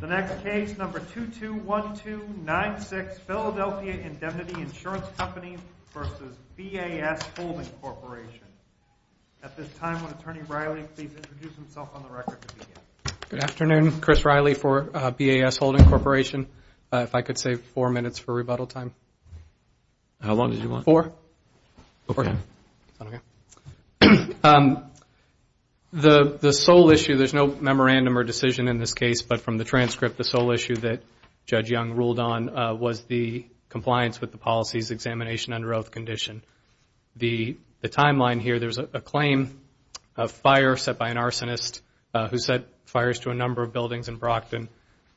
The next case, number 221296, Philadelphia Indemnity Insurance Company v. BAS Holding Corporation. At this time, would Attorney Riley please introduce himself on the record? Good afternoon. Chris Riley for BAS Holding Corporation. If I could save four minutes for rebuttal time. How long did you want? Four. Okay. The sole issue, there's no memorandum or decision in this case, but from the transcript, the sole issue that Judge Young ruled on was the compliance with the policy's examination under oath condition. The timeline here, there's a claim of fire set by an arsonist who set fires to a number of buildings in Brockton.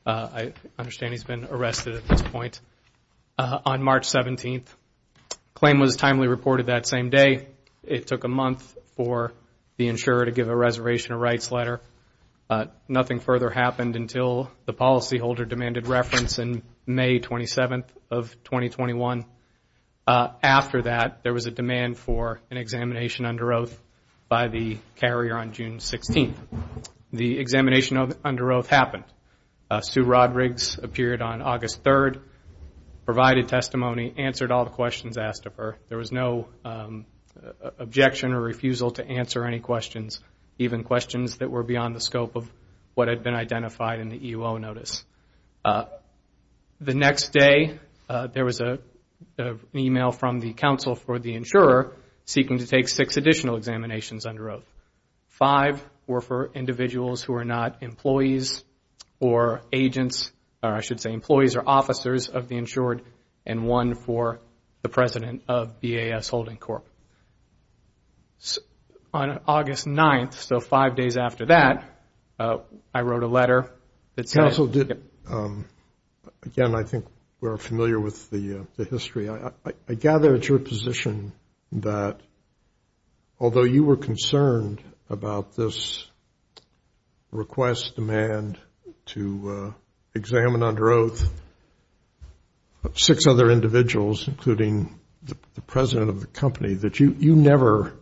I understand he's been arrested at this point. On March 17th, the claim was timely reported that same day. It took a month for the insurer to give a reservation or rights letter. Nothing further happened until the policyholder demanded reference on May 27th of 2021. After that, there was a demand for an examination under oath by the carrier on June 16th. The examination under oath happened. Sue Rodrigues appeared on August 3rd, provided testimony, answered all the questions asked of her. There was no objection or refusal to answer any questions, even questions that were beyond the scope of what had been identified in the EO notice. The next day, there was an email from the counsel for the insurer seeking to take six additional examinations under oath. Five were for individuals who are not employees or agents, or I should say employees or officers of the insured, and one for the president of BAS Holding Corp. On August 9th, so five days after that, I wrote a letter that said- Counsel, again, I think we're familiar with the history. I gather it's your position that although you were concerned about this request demand to examine under oath six other individuals, including the president of the company, that you never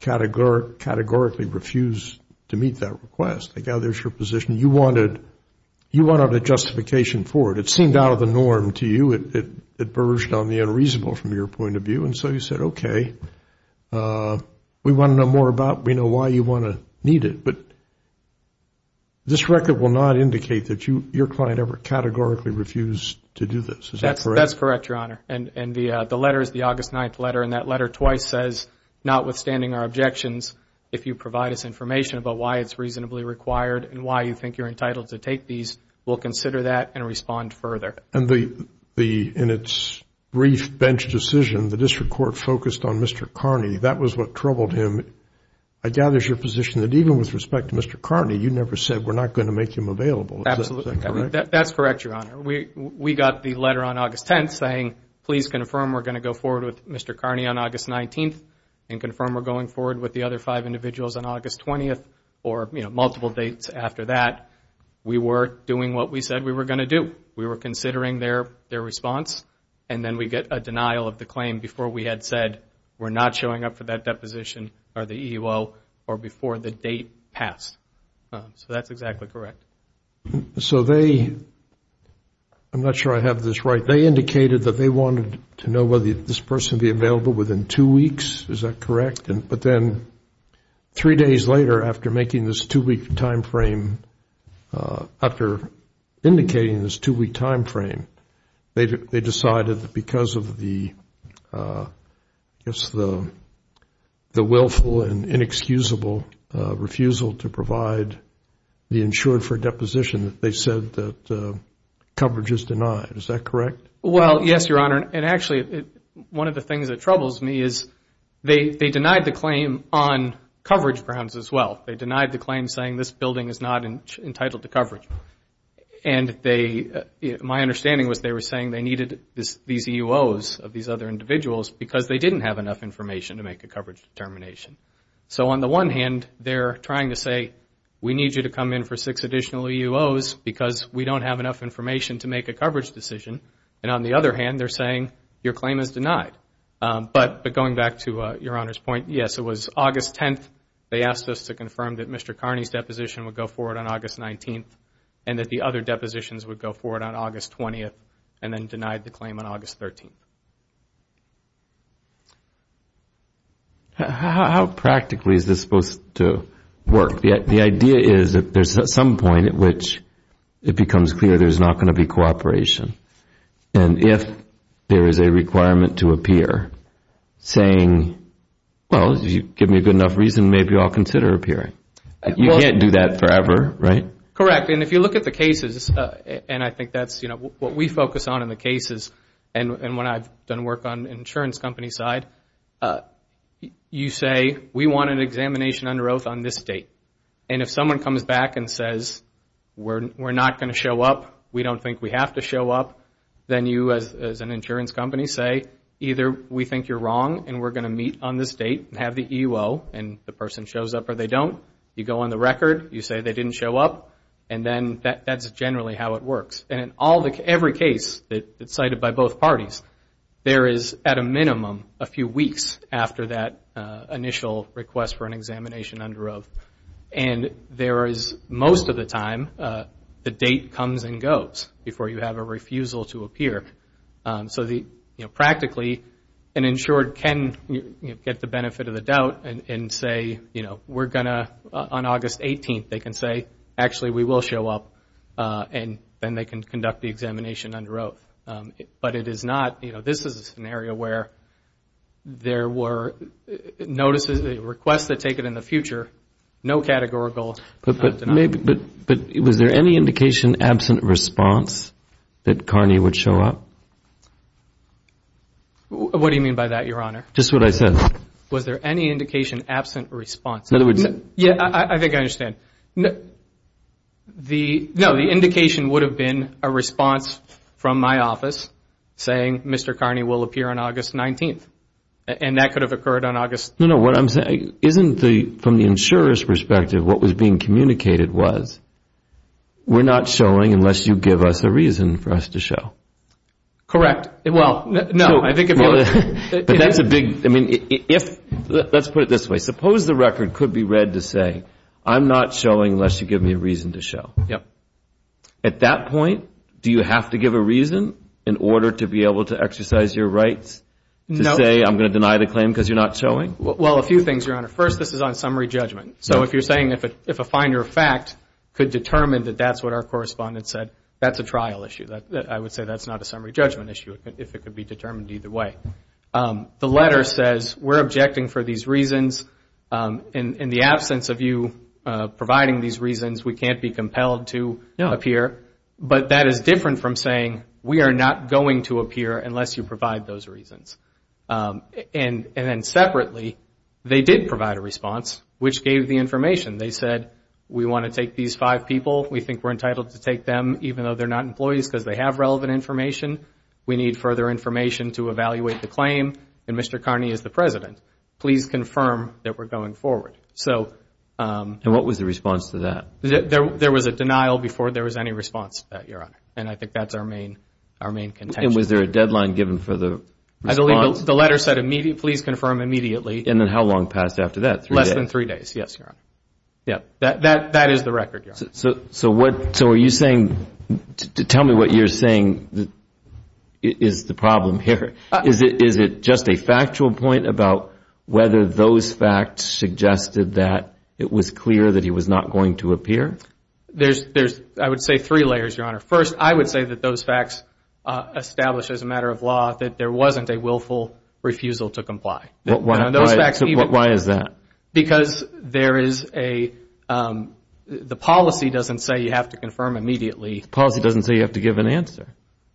categorically refused to meet that request. I gather it's your position you wanted a justification for it. It seemed out of the norm to you. It verged on the unreasonable from your point of view. And so you said, okay, we want to know more about it. We know why you want to meet it. But this record will not indicate that your client ever categorically refused to do this. Is that correct? That's correct, Your Honor. And the letter is the August 9th letter, and that letter twice says, notwithstanding our objections, if you provide us information about why it's reasonably required and why you think you're entitled to take these, we'll consider that and respond further. And in its brief bench decision, the district court focused on Mr. Carney. That was what troubled him. I gather it's your position that even with respect to Mr. Carney, you never said we're not going to make him available. Absolutely. Is that correct? That's correct, Your Honor. We got the letter on August 10th saying, please confirm we're going to go forward with Mr. Carney on August 19th and confirm we're going forward with the other five individuals on August 20th or multiple dates after that. We were doing what we said we were going to do. We were considering their response. And then we get a denial of the claim before we had said we're not showing up for that deposition or the EEO or before the date passed. So that's exactly correct. So they, I'm not sure I have this right, they indicated that they wanted to know whether this person would be available within two weeks. Is that correct? But then three days later after making this two-week time frame, after indicating this two-week time frame, they decided that because of the willful and inexcusable refusal to provide the insured for deposition, they said that coverage is denied. Is that correct? Well, yes, Your Honor. And actually, one of the things that troubles me is they denied the claim on coverage grounds as well. They denied the claim saying this building is not entitled to coverage. And my understanding was they were saying they needed these EEOs of these other individuals because they didn't have enough information to make a coverage determination. So on the one hand, they're trying to say we need you to come in for six additional EEOs because we don't have enough information to make a coverage decision. And on the other hand, they're saying your claim is denied. But going back to Your Honor's point, yes, it was August 10th, they asked us to confirm that Mr. Carney's deposition would go forward on August 19th and that the other depositions would go forward on August 20th and then denied the claim on August 13th. How practically is this supposed to work? The idea is that there's some point at which it becomes clear there's not going to be cooperation. And if there is a requirement to appear saying, well, if you give me a good enough reason, maybe I'll consider appearing. You can't do that forever, right? Correct. And if you look at the cases, and I think that's what we focus on in the cases, and when I've done work on the insurance company side, you say, we want an examination under oath on this date. And if someone comes back and says, we're not going to show up, we don't think we have to show up, then you as an insurance company say, either we think you're wrong and we're going to meet on this date and have the EEO and the person shows up or they don't. You go on the record, you say they didn't show up, and then that's generally how it works. And in every case that's cited by both parties, there is, at a minimum, a few weeks after that initial request for an examination under oath. And there is, most of the time, the date comes and goes before you have a refusal to appear. So practically, an insured can get the benefit of the doubt and say, we're going to, on August 18th, they can say, actually, we will show up, and then they can conduct the examination under oath. But it is not, you know, this is an area where there were notices, requests that take it in the future, no categorical. But was there any indication, absent response, that Carney would show up? What do you mean by that, Your Honor? Just what I said. Was there any indication absent response? Yeah, I think I understand. No, the indication would have been a response from my office saying, Mr. Carney will appear on August 19th. And that could have occurred on August... No, no, what I'm saying, isn't the, from the insurer's perspective, what was being communicated was, we're not showing unless you give us a reason for us to show. Correct. Well, no, I think... But that's a big, I mean, let's put it this way. Suppose the record could be read to say, I'm not showing unless you give me a reason to show. Yep. At that point, do you have to give a reason in order to be able to exercise your rights to say, I'm going to deny the claim because you're not showing? Well, a few things, Your Honor. First, this is on summary judgment. So if you're saying, if a finder of fact could determine that that's what our correspondent said, that's a trial issue. I would say that's not a summary judgment issue if it could be determined either way. The letter says, we're objecting for these reasons. In the absence of you providing these reasons, we can't be compelled to appear. But that is different from saying, we are not going to appear unless you provide those reasons. And then separately, they did provide a response, which gave the information. They said, we want to take these five people. We think we're entitled to take them, even though they're not employees, because they have relevant information. We need further information to evaluate the claim. And Mr. Carney is the president. Please confirm that we're going forward. And what was the response to that? There was a denial before there was any response to that, Your Honor. And I think that's our main contention. And was there a deadline given for the response? I believe the letter said, please confirm immediately. And then how long passed after that, three days? Less than three days, yes, Your Honor. That is the record, Your Honor. So are you saying, tell me what you're saying is the problem here. Is it just a factual point about whether those facts suggested that it was clear that he was not going to appear? There's, I would say, three layers, Your Honor. First, I would say that those facts establish as a matter of law that there wasn't a willful refusal to comply. Why is that? Because there is a, the policy doesn't say you have to confirm immediately. The policy doesn't say you have to give an answer.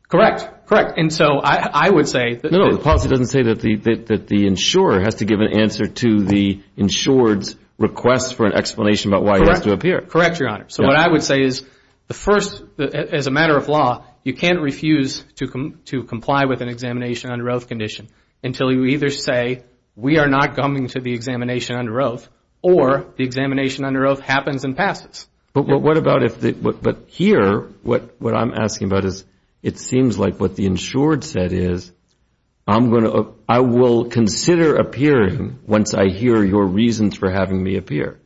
Correct, correct. And so I would say that. No, the policy doesn't say that the insurer has to give an answer to the insured's request for an explanation about why he has to appear. Correct, Your Honor. So what I would say is the first, as a matter of law, you can't refuse to comply with an examination under oath condition until you either say we are not coming to the examination under oath or the examination under oath happens and passes. But what about if, but here what I'm asking about is it seems like what the insured said is I'm going to, I will consider appearing once I hear your reasons for having me appear.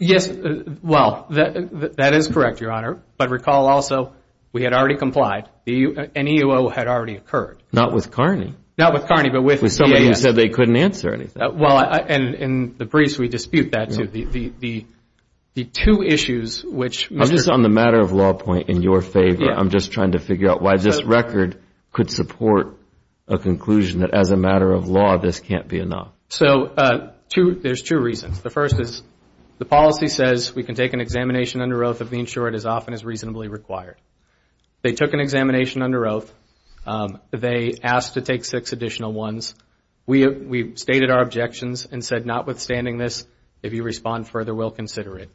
Yes, well, that is correct, Your Honor. But recall also we had already complied. An EEO had already occurred. Not with Carney. Not with Carney, but with the EEO. With somebody who said they couldn't answer anything. Well, and the briefs, we dispute that too. The two issues which Mr. I'm just on the matter of law point in your favor. I'm just trying to figure out why this record could support a conclusion that as a matter of law this can't be enough. So there's two reasons. The first is the policy says we can take an examination under oath of the insured as often as reasonably required. They took an examination under oath. They asked to take six additional ones. We stated our objections and said notwithstanding this, if you respond further, we'll consider it.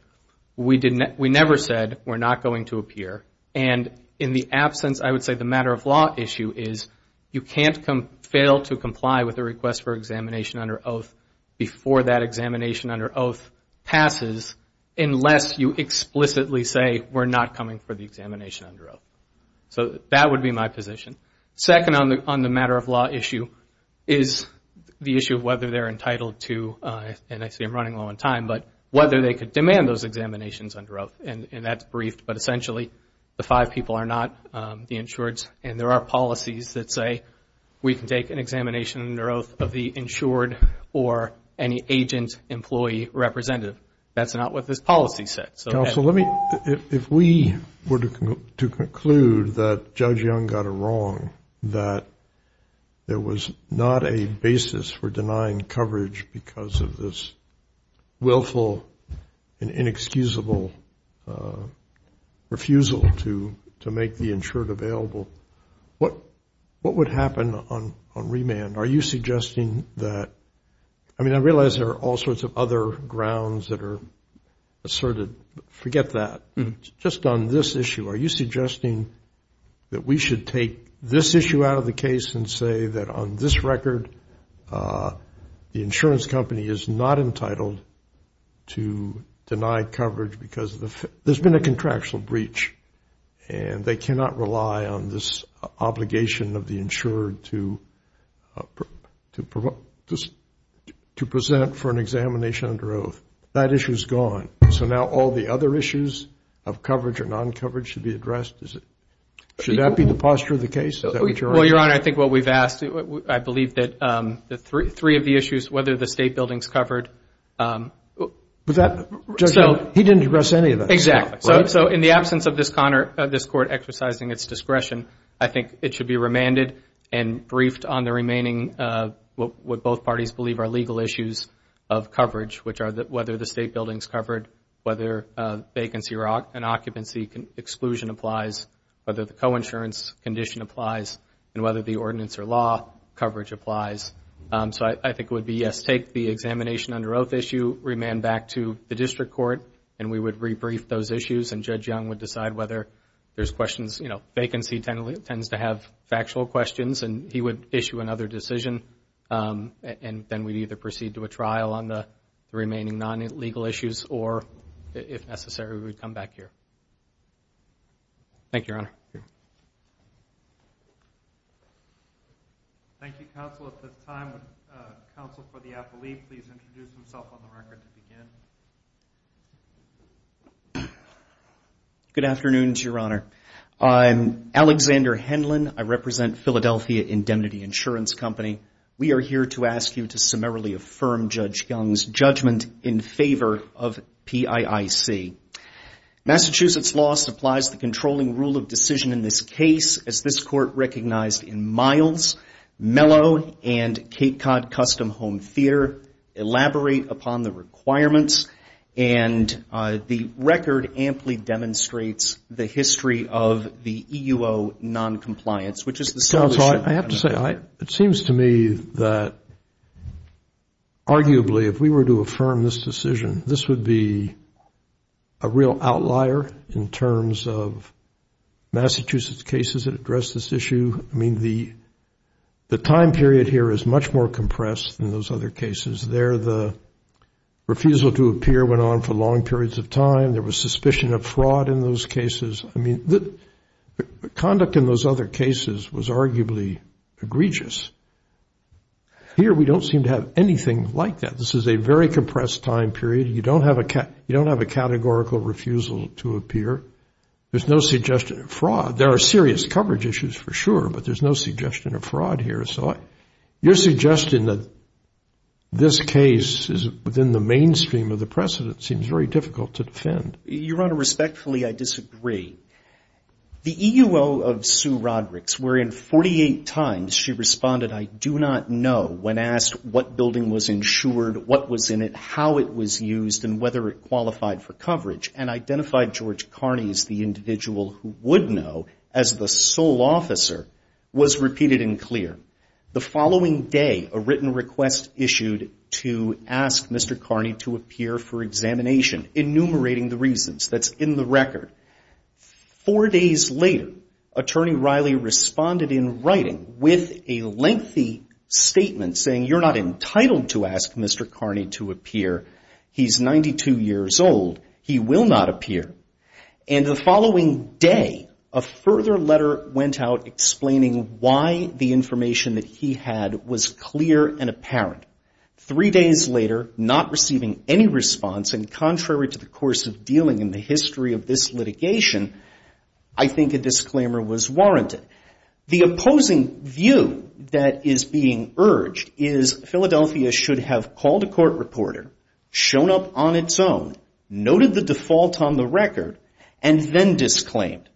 We never said we're not going to appear. And in the absence, I would say the matter of law issue is you can't fail to comply with a request for examination under oath before that examination under oath passes unless you explicitly say we're not coming for the examination under oath. So that would be my position. Second on the matter of law issue is the issue of whether they're entitled to, and I see I'm running low on time, but whether they could demand those examinations under oath. And that's briefed, but essentially the five people are not the insureds, and there are policies that say we can take an examination under oath of the insured or any agent, employee, representative. That's not what this policy says. Counsel, let me, if we were to conclude that Judge Young got it wrong, that there was not a basis for denying coverage because of this willful and inexcusable refusal to make the insured available, what would happen on remand? Are you suggesting that, I mean, I realize there are all sorts of other grounds that are asserted. Forget that. Just on this issue, are you suggesting that we should take this issue out of the case and say that on this record, the insurance company is not entitled to deny coverage because there's been a contractual breach and they cannot rely on this obligation of the insured to present for an examination under oath. That issue is gone. So now all the other issues of coverage or non-coverage should be addressed. Should that be the posture of the case? Well, Your Honor, I think what we've asked, I believe that three of the issues, whether the state building is covered. But that, Judge Young, he didn't address any of that. Exactly. So in the absence of this court exercising its discretion, I think it should be remanded and briefed on the remaining what both parties believe are legal issues of coverage, which are whether the state building is covered, whether vacancy and occupancy exclusion applies, whether the coinsurance condition applies, and whether the ordinance or law coverage applies. So I think it would be, yes, take the examination under oath issue, remand back to the district court, and we would rebrief those issues and Judge Young would decide whether there's questions. You know, vacancy tends to have factual questions and he would issue another decision and then we'd either proceed to a trial on the remaining non-legal issues or, if necessary, we'd come back here. Thank you, counsel. At this time, would counsel for the appellee please introduce himself on the record to begin? Good afternoon, Your Honor. I'm Alexander Henlon. I represent Philadelphia Indemnity Insurance Company. We are here to ask you to summarily affirm Judge Young's judgment in favor of PIIC. Massachusetts law supplies the controlling rule of decision in this case, as this court recognized in Miles, Mello, and Cape Cod Custom Home Theater. Elaborate upon the requirements. And the record amply demonstrates the history of the E.U.O. noncompliance, which is the solution. Counsel, I have to say, it seems to me that, arguably, if we were to affirm this decision, this would be a real outlier in terms of Massachusetts cases that address this issue. I mean, the time period here is much more compressed than those other cases. There, the refusal to appear went on for long periods of time. There was suspicion of fraud in those cases. I mean, the conduct in those other cases was arguably egregious. Here, we don't seem to have anything like that. This is a very compressed time period. You don't have a categorical refusal to appear. There's no suggestion of fraud. There are serious coverage issues, for sure, but there's no suggestion of fraud here. So your suggestion that this case is within the mainstream of the precedent seems very difficult to defend. Your Honor, respectfully, I disagree. The E.U.O. of Sue Rodricks, wherein 48 times she responded, I do not know, when asked what building was insured, what was in it, how it was used, and whether it qualified for coverage, and identified George Kearney as the individual who would know as the sole officer, was repeated and clear. The following day, a written request issued to ask Mr. Kearney to appear for examination, enumerating the reasons that's in the record. Four days later, Attorney Riley responded in writing with a lengthy statement saying, you're not entitled to ask Mr. Kearney to appear. He's 92 years old. He will not appear. And the following day, a further letter went out explaining why the information that he had was clear and apparent. Three days later, not receiving any response, and contrary to the course of dealing in the history of this litigation, I think a disclaimer was warranted. The opposing view that is being urged is Philadelphia should have called a court reporter, shown up on its own, noted the default on the record, and then disclaimed.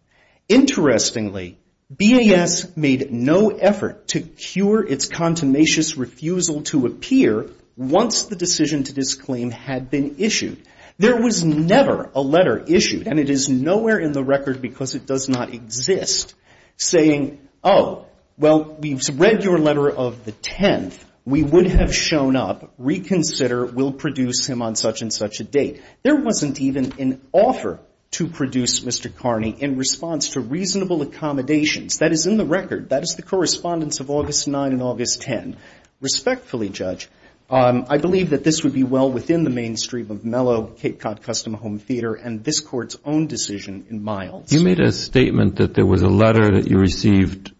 Interestingly, BAS made no effort to cure its contumacious refusal to appear once the decision to disclaim had been issued. There was never a letter issued, and it is nowhere in the record because it does not exist, saying, oh, well, we've read your letter of the 10th. We would have shown up, reconsider, we'll produce him on such and such a date. There wasn't even an offer to produce Mr. Kearney in response to reasonable accommodations. That is in the record. That is the correspondence of August 9 and August 10. Respectfully, Judge, I believe that this would be well within the mainstream of Mellow, Cape Cod Custom Home Theater, and this Court's own decision in Miles. You made a statement that there was a letter that you received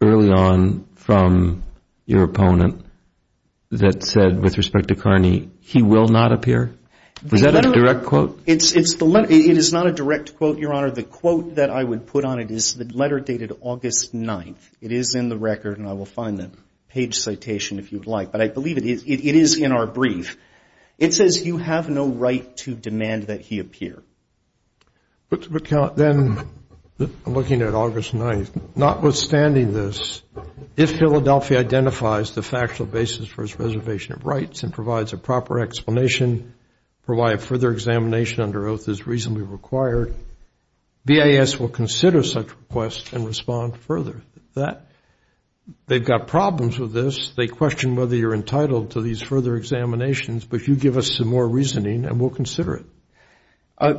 early on from your opponent that said, with respect to Kearney, he will not appear. Is that a direct quote? It is not a direct quote, Your Honor. The quote that I would put on it is the letter dated August 9. It is in the record, and I will find the page citation if you would like. But I believe it is in our brief. It says, you have no right to demand that he appear. But then, looking at August 9, notwithstanding this, if Philadelphia identifies the factual basis for his reservation of rights and provides a proper explanation for why a further examination under oath is reasonably required, BAS will consider such requests and respond further. They've got problems with this. They question whether you're entitled to these further examinations. But you give us some more reasoning, and we'll consider it.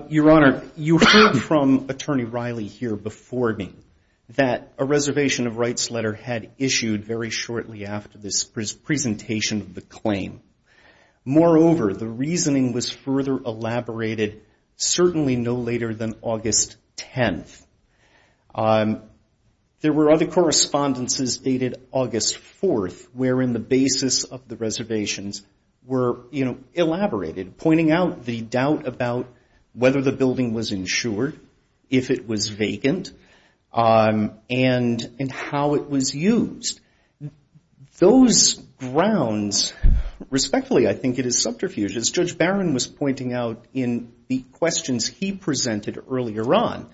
Your Honor, you heard from Attorney Riley here before me that a reservation of rights letter had issued very shortly after this presentation of the claim. Moreover, the reasoning was further elaborated certainly no later than August 10. There were other correspondences dated August 4, wherein the basis of the reservations were, you know, elaborated, pointing out the doubt about whether the building was insured, if it was vacant, and how it was used. Those grounds, respectfully, I think it is subterfuge. As Judge Barron was pointing out in the questions he presented earlier on,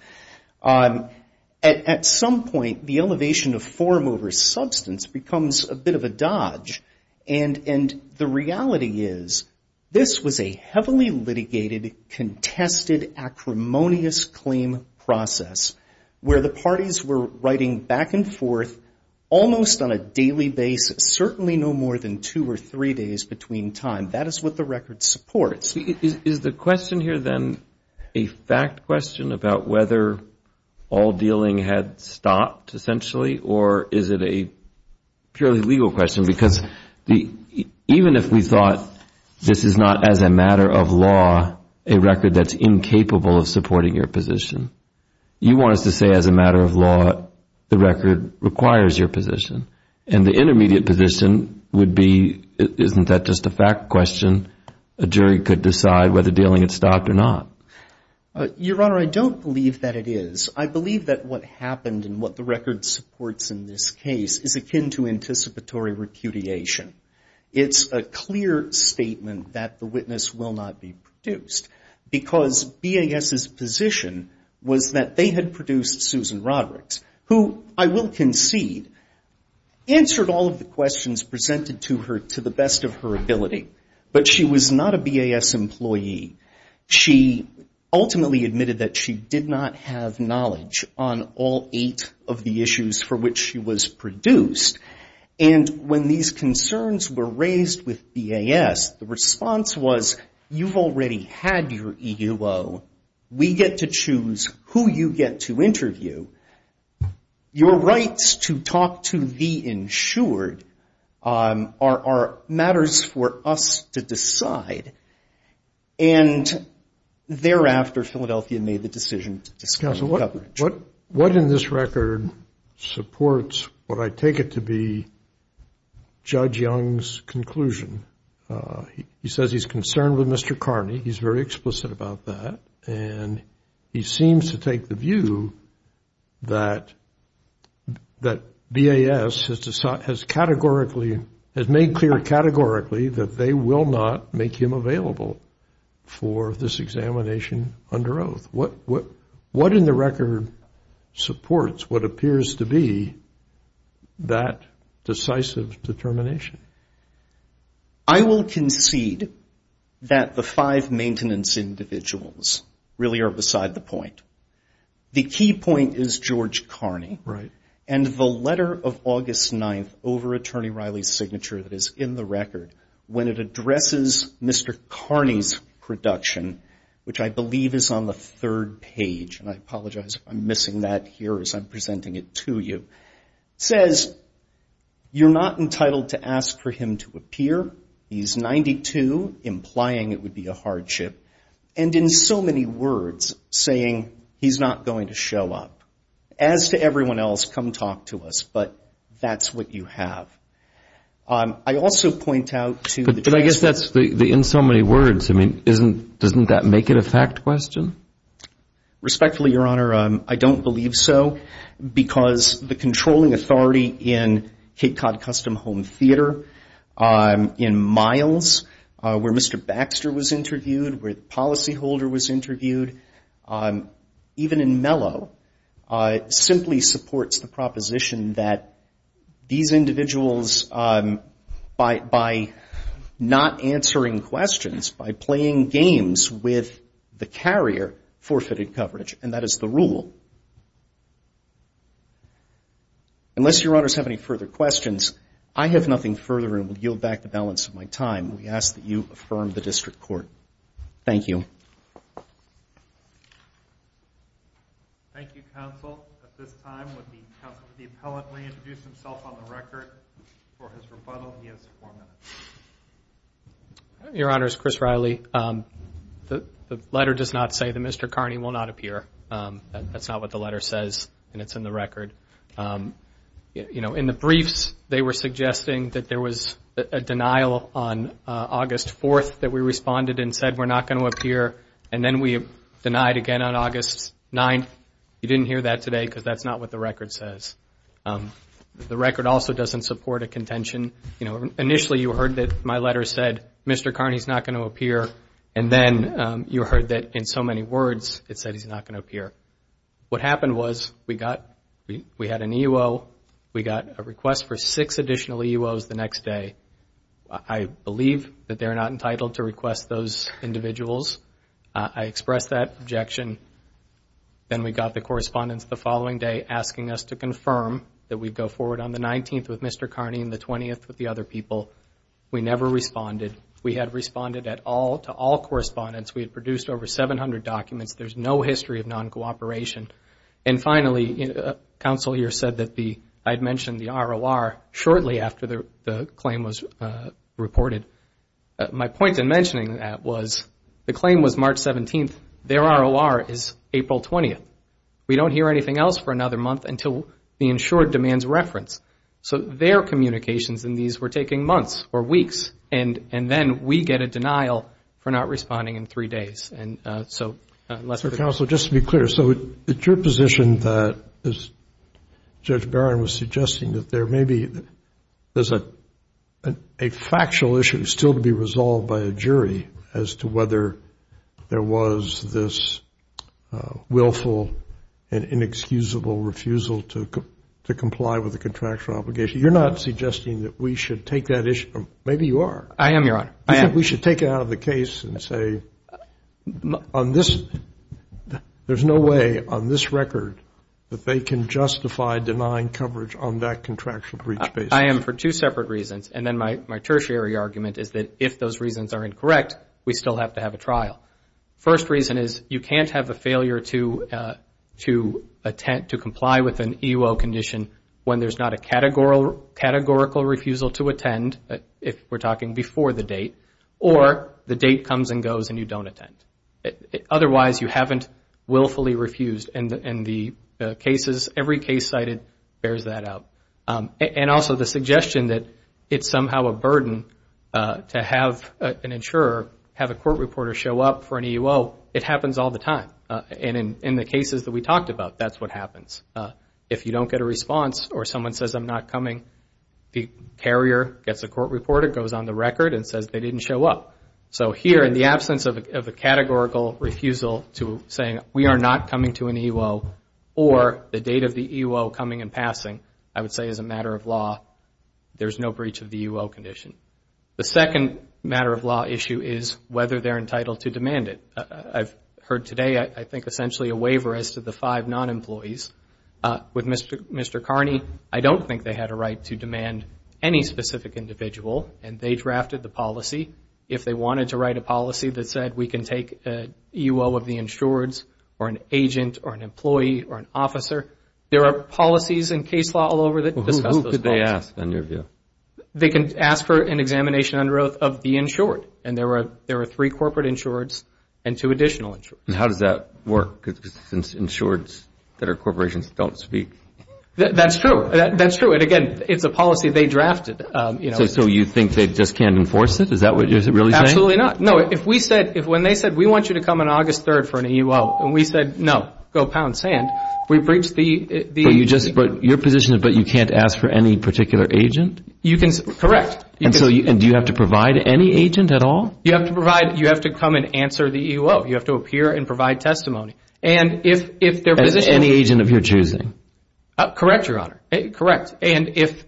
at some point, the elevation of form over substance becomes a bit of a dodge. And the reality is this was a heavily litigated, contested, acrimonious claim process, where the parties were writing back and forth almost on a daily basis, certainly no more than two or three days between time. That is what the record supports. Is the question here then a fact question about whether all dealing had stopped, essentially, or is it a purely legal question? Because even if we thought this is not, as a matter of law, a record that's incapable of supporting your position, you want us to say, as a matter of law, the record requires your position. And the intermediate position would be, isn't that just a fact question? A jury could decide whether dealing had stopped or not. Your Honor, I don't believe that it is. I believe that what happened and what the record supports in this case is akin to anticipatory repudiation. It's a clear statement that the witness will not be produced, because BAS's position was that they had produced Susan Rodericks, who, I will concede, answered all of the questions presented to her to the best of her ability, but she was not a BAS employee. She ultimately admitted that she did not have knowledge on all eight of the issues for which she was produced. And when these concerns were raised with BAS, the response was, you've already had your EUO. We get to choose who you get to interview. Your rights to talk to the insured are matters for us to decide. And thereafter, Philadelphia made the decision to disclaim coverage. Counsel, what in this record supports what I take it to be Judge Young's conclusion? He says he's concerned with Mr. Carney. He's very explicit about that. And he seems to take the view that BAS has categorically, has made clear categorically that they will not make him available for this examination under oath. What in the record supports what appears to be that decisive determination? I will concede that the five maintenance individuals really are beside the point. The key point is George Carney. Right. And the letter of August 9th over Attorney Riley's signature that is in the record, when it addresses Mr. Carney's production, which I believe is on the third page, and I apologize if I'm missing that here as I'm presenting it to you, says you're not entitled to ask for him to appear. He's 92, implying it would be a hardship. And in so many words, saying he's not going to show up. As to everyone else, come talk to us, but that's what you have. I also point out to the trustee. But I guess that's the in so many words, I mean, doesn't that make it a fact question? Respectfully, Your Honor, I don't believe so, because the controlling authority in Cape Cod Custom Home Theater, in Miles, where Mr. Baxter was interviewed, where the policyholder was interviewed, even in Mellow, simply supports the proposition that these individuals by not answering questions, by playing games with the carrier, forfeited coverage. And that is the rule. Unless Your Honors have any further questions, I have nothing further and will yield back the balance of my time. We ask that you affirm the district court. Thank you. Thank you, counsel. At this time, would the appellant please introduce himself on the record for his rebuttal? He has four minutes. Your Honors, Chris Riley. The letter does not say that Mr. Carney will not appear. That's not what the letter says, and it's in the record. In the briefs, they were suggesting that there was a denial on August 4th that we responded and said we're not going to appear, and then we denied again on August 9th. You didn't hear that today because that's not what the record says. The record also doesn't support a contention. Initially you heard that my letter said Mr. Carney is not going to appear, and then you heard that in so many words it said he's not going to appear. What happened was we had an EEO, we got a request for six additional EEOs the next day. I believe that they're not entitled to request those individuals. I expressed that objection. Then we got the correspondence the following day asking us to confirm that we'd go forward on the 19th with Mr. Carney and the 20th with the other people. We never responded. We had responded at all to all correspondence. We had produced over 700 documents. There's no history of non-cooperation. Finally, counsel here said that I had mentioned the ROR shortly after the claim was reported. My point in mentioning that was the claim was March 17th. Their ROR is April 20th. We don't hear anything else for another month until the insured demands reference. So their communications in these were taking months or weeks, and then we get a denial for not responding in three days. Counsel, just to be clear, so it's your position that, as Judge Barron was suggesting, that there may be a factual issue still to be resolved by a jury as to whether there was this willful and inexcusable refusal to comply with the contractual obligation. You're not suggesting that we should take that issue, or maybe you are. I am, Your Honor. We should take it out of the case and say, there's no way on this record that they can justify denying coverage on that contractual breach basis. I am for two separate reasons, and then my tertiary argument is that if those reasons are incorrect, we still have to have a trial. First reason is you can't have a failure to comply with an EO condition when there's not a categorical refusal to attend, if we're talking before the date, or the date comes and goes and you don't attend. Otherwise, you haven't willfully refused, and the cases, every case cited bears that out. And also the suggestion that it's somehow a burden to have an insurer, have a court reporter show up for an EO, it happens all the time, and in the cases that we talked about, that's what happens. If you don't get a response, or someone says, I'm not coming, the carrier gets a court reporter, goes on the record, and says they didn't show up. So here, in the absence of a categorical refusal to say, we are not coming to an EO, or the date of the EO coming and passing, I would say as a matter of law, there's no breach of the EO condition. The second matter of law issue is whether they're entitled to demand it. I've heard today, I think essentially a waiver as to the five non-employees. With Mr. Carney, I don't think they had a right to demand any specific individual, and they drafted the policy. If they wanted to write a policy that said we can take an EO of the insured, or an agent, or an employee, or an officer, there are policies in case law all over that discuss those policies. Who could they ask, in your view? They can ask for an examination under oath of the insured. And there are three corporate insureds and two additional insureds. And how does that work? Because insureds that are corporations don't speak. That's true. That's true. And, again, it's a policy they drafted. So you think they just can't enforce it? Is that what you're really saying? Absolutely not. No. If we said, if when they said, we want you to come on August 3rd for an EO, and we said, no, go pound sand, we breached the EO. So you just put your position, but you can't ask for any particular agent? Correct. And do you have to provide any agent at all? You have to come and answer the EO. You have to appear and provide testimony. As any agent of your choosing? Correct, Your Honor. Correct. And if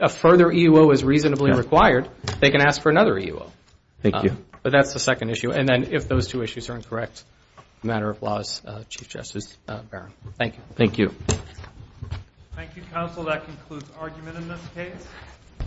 a further EO is reasonably required, they can ask for another EO. Thank you. But that's the second issue. And then if those two issues are incorrect, a matter of laws, Chief Justice Barron. Thank you. Thank you. Thank you, counsel. That concludes argument in this case.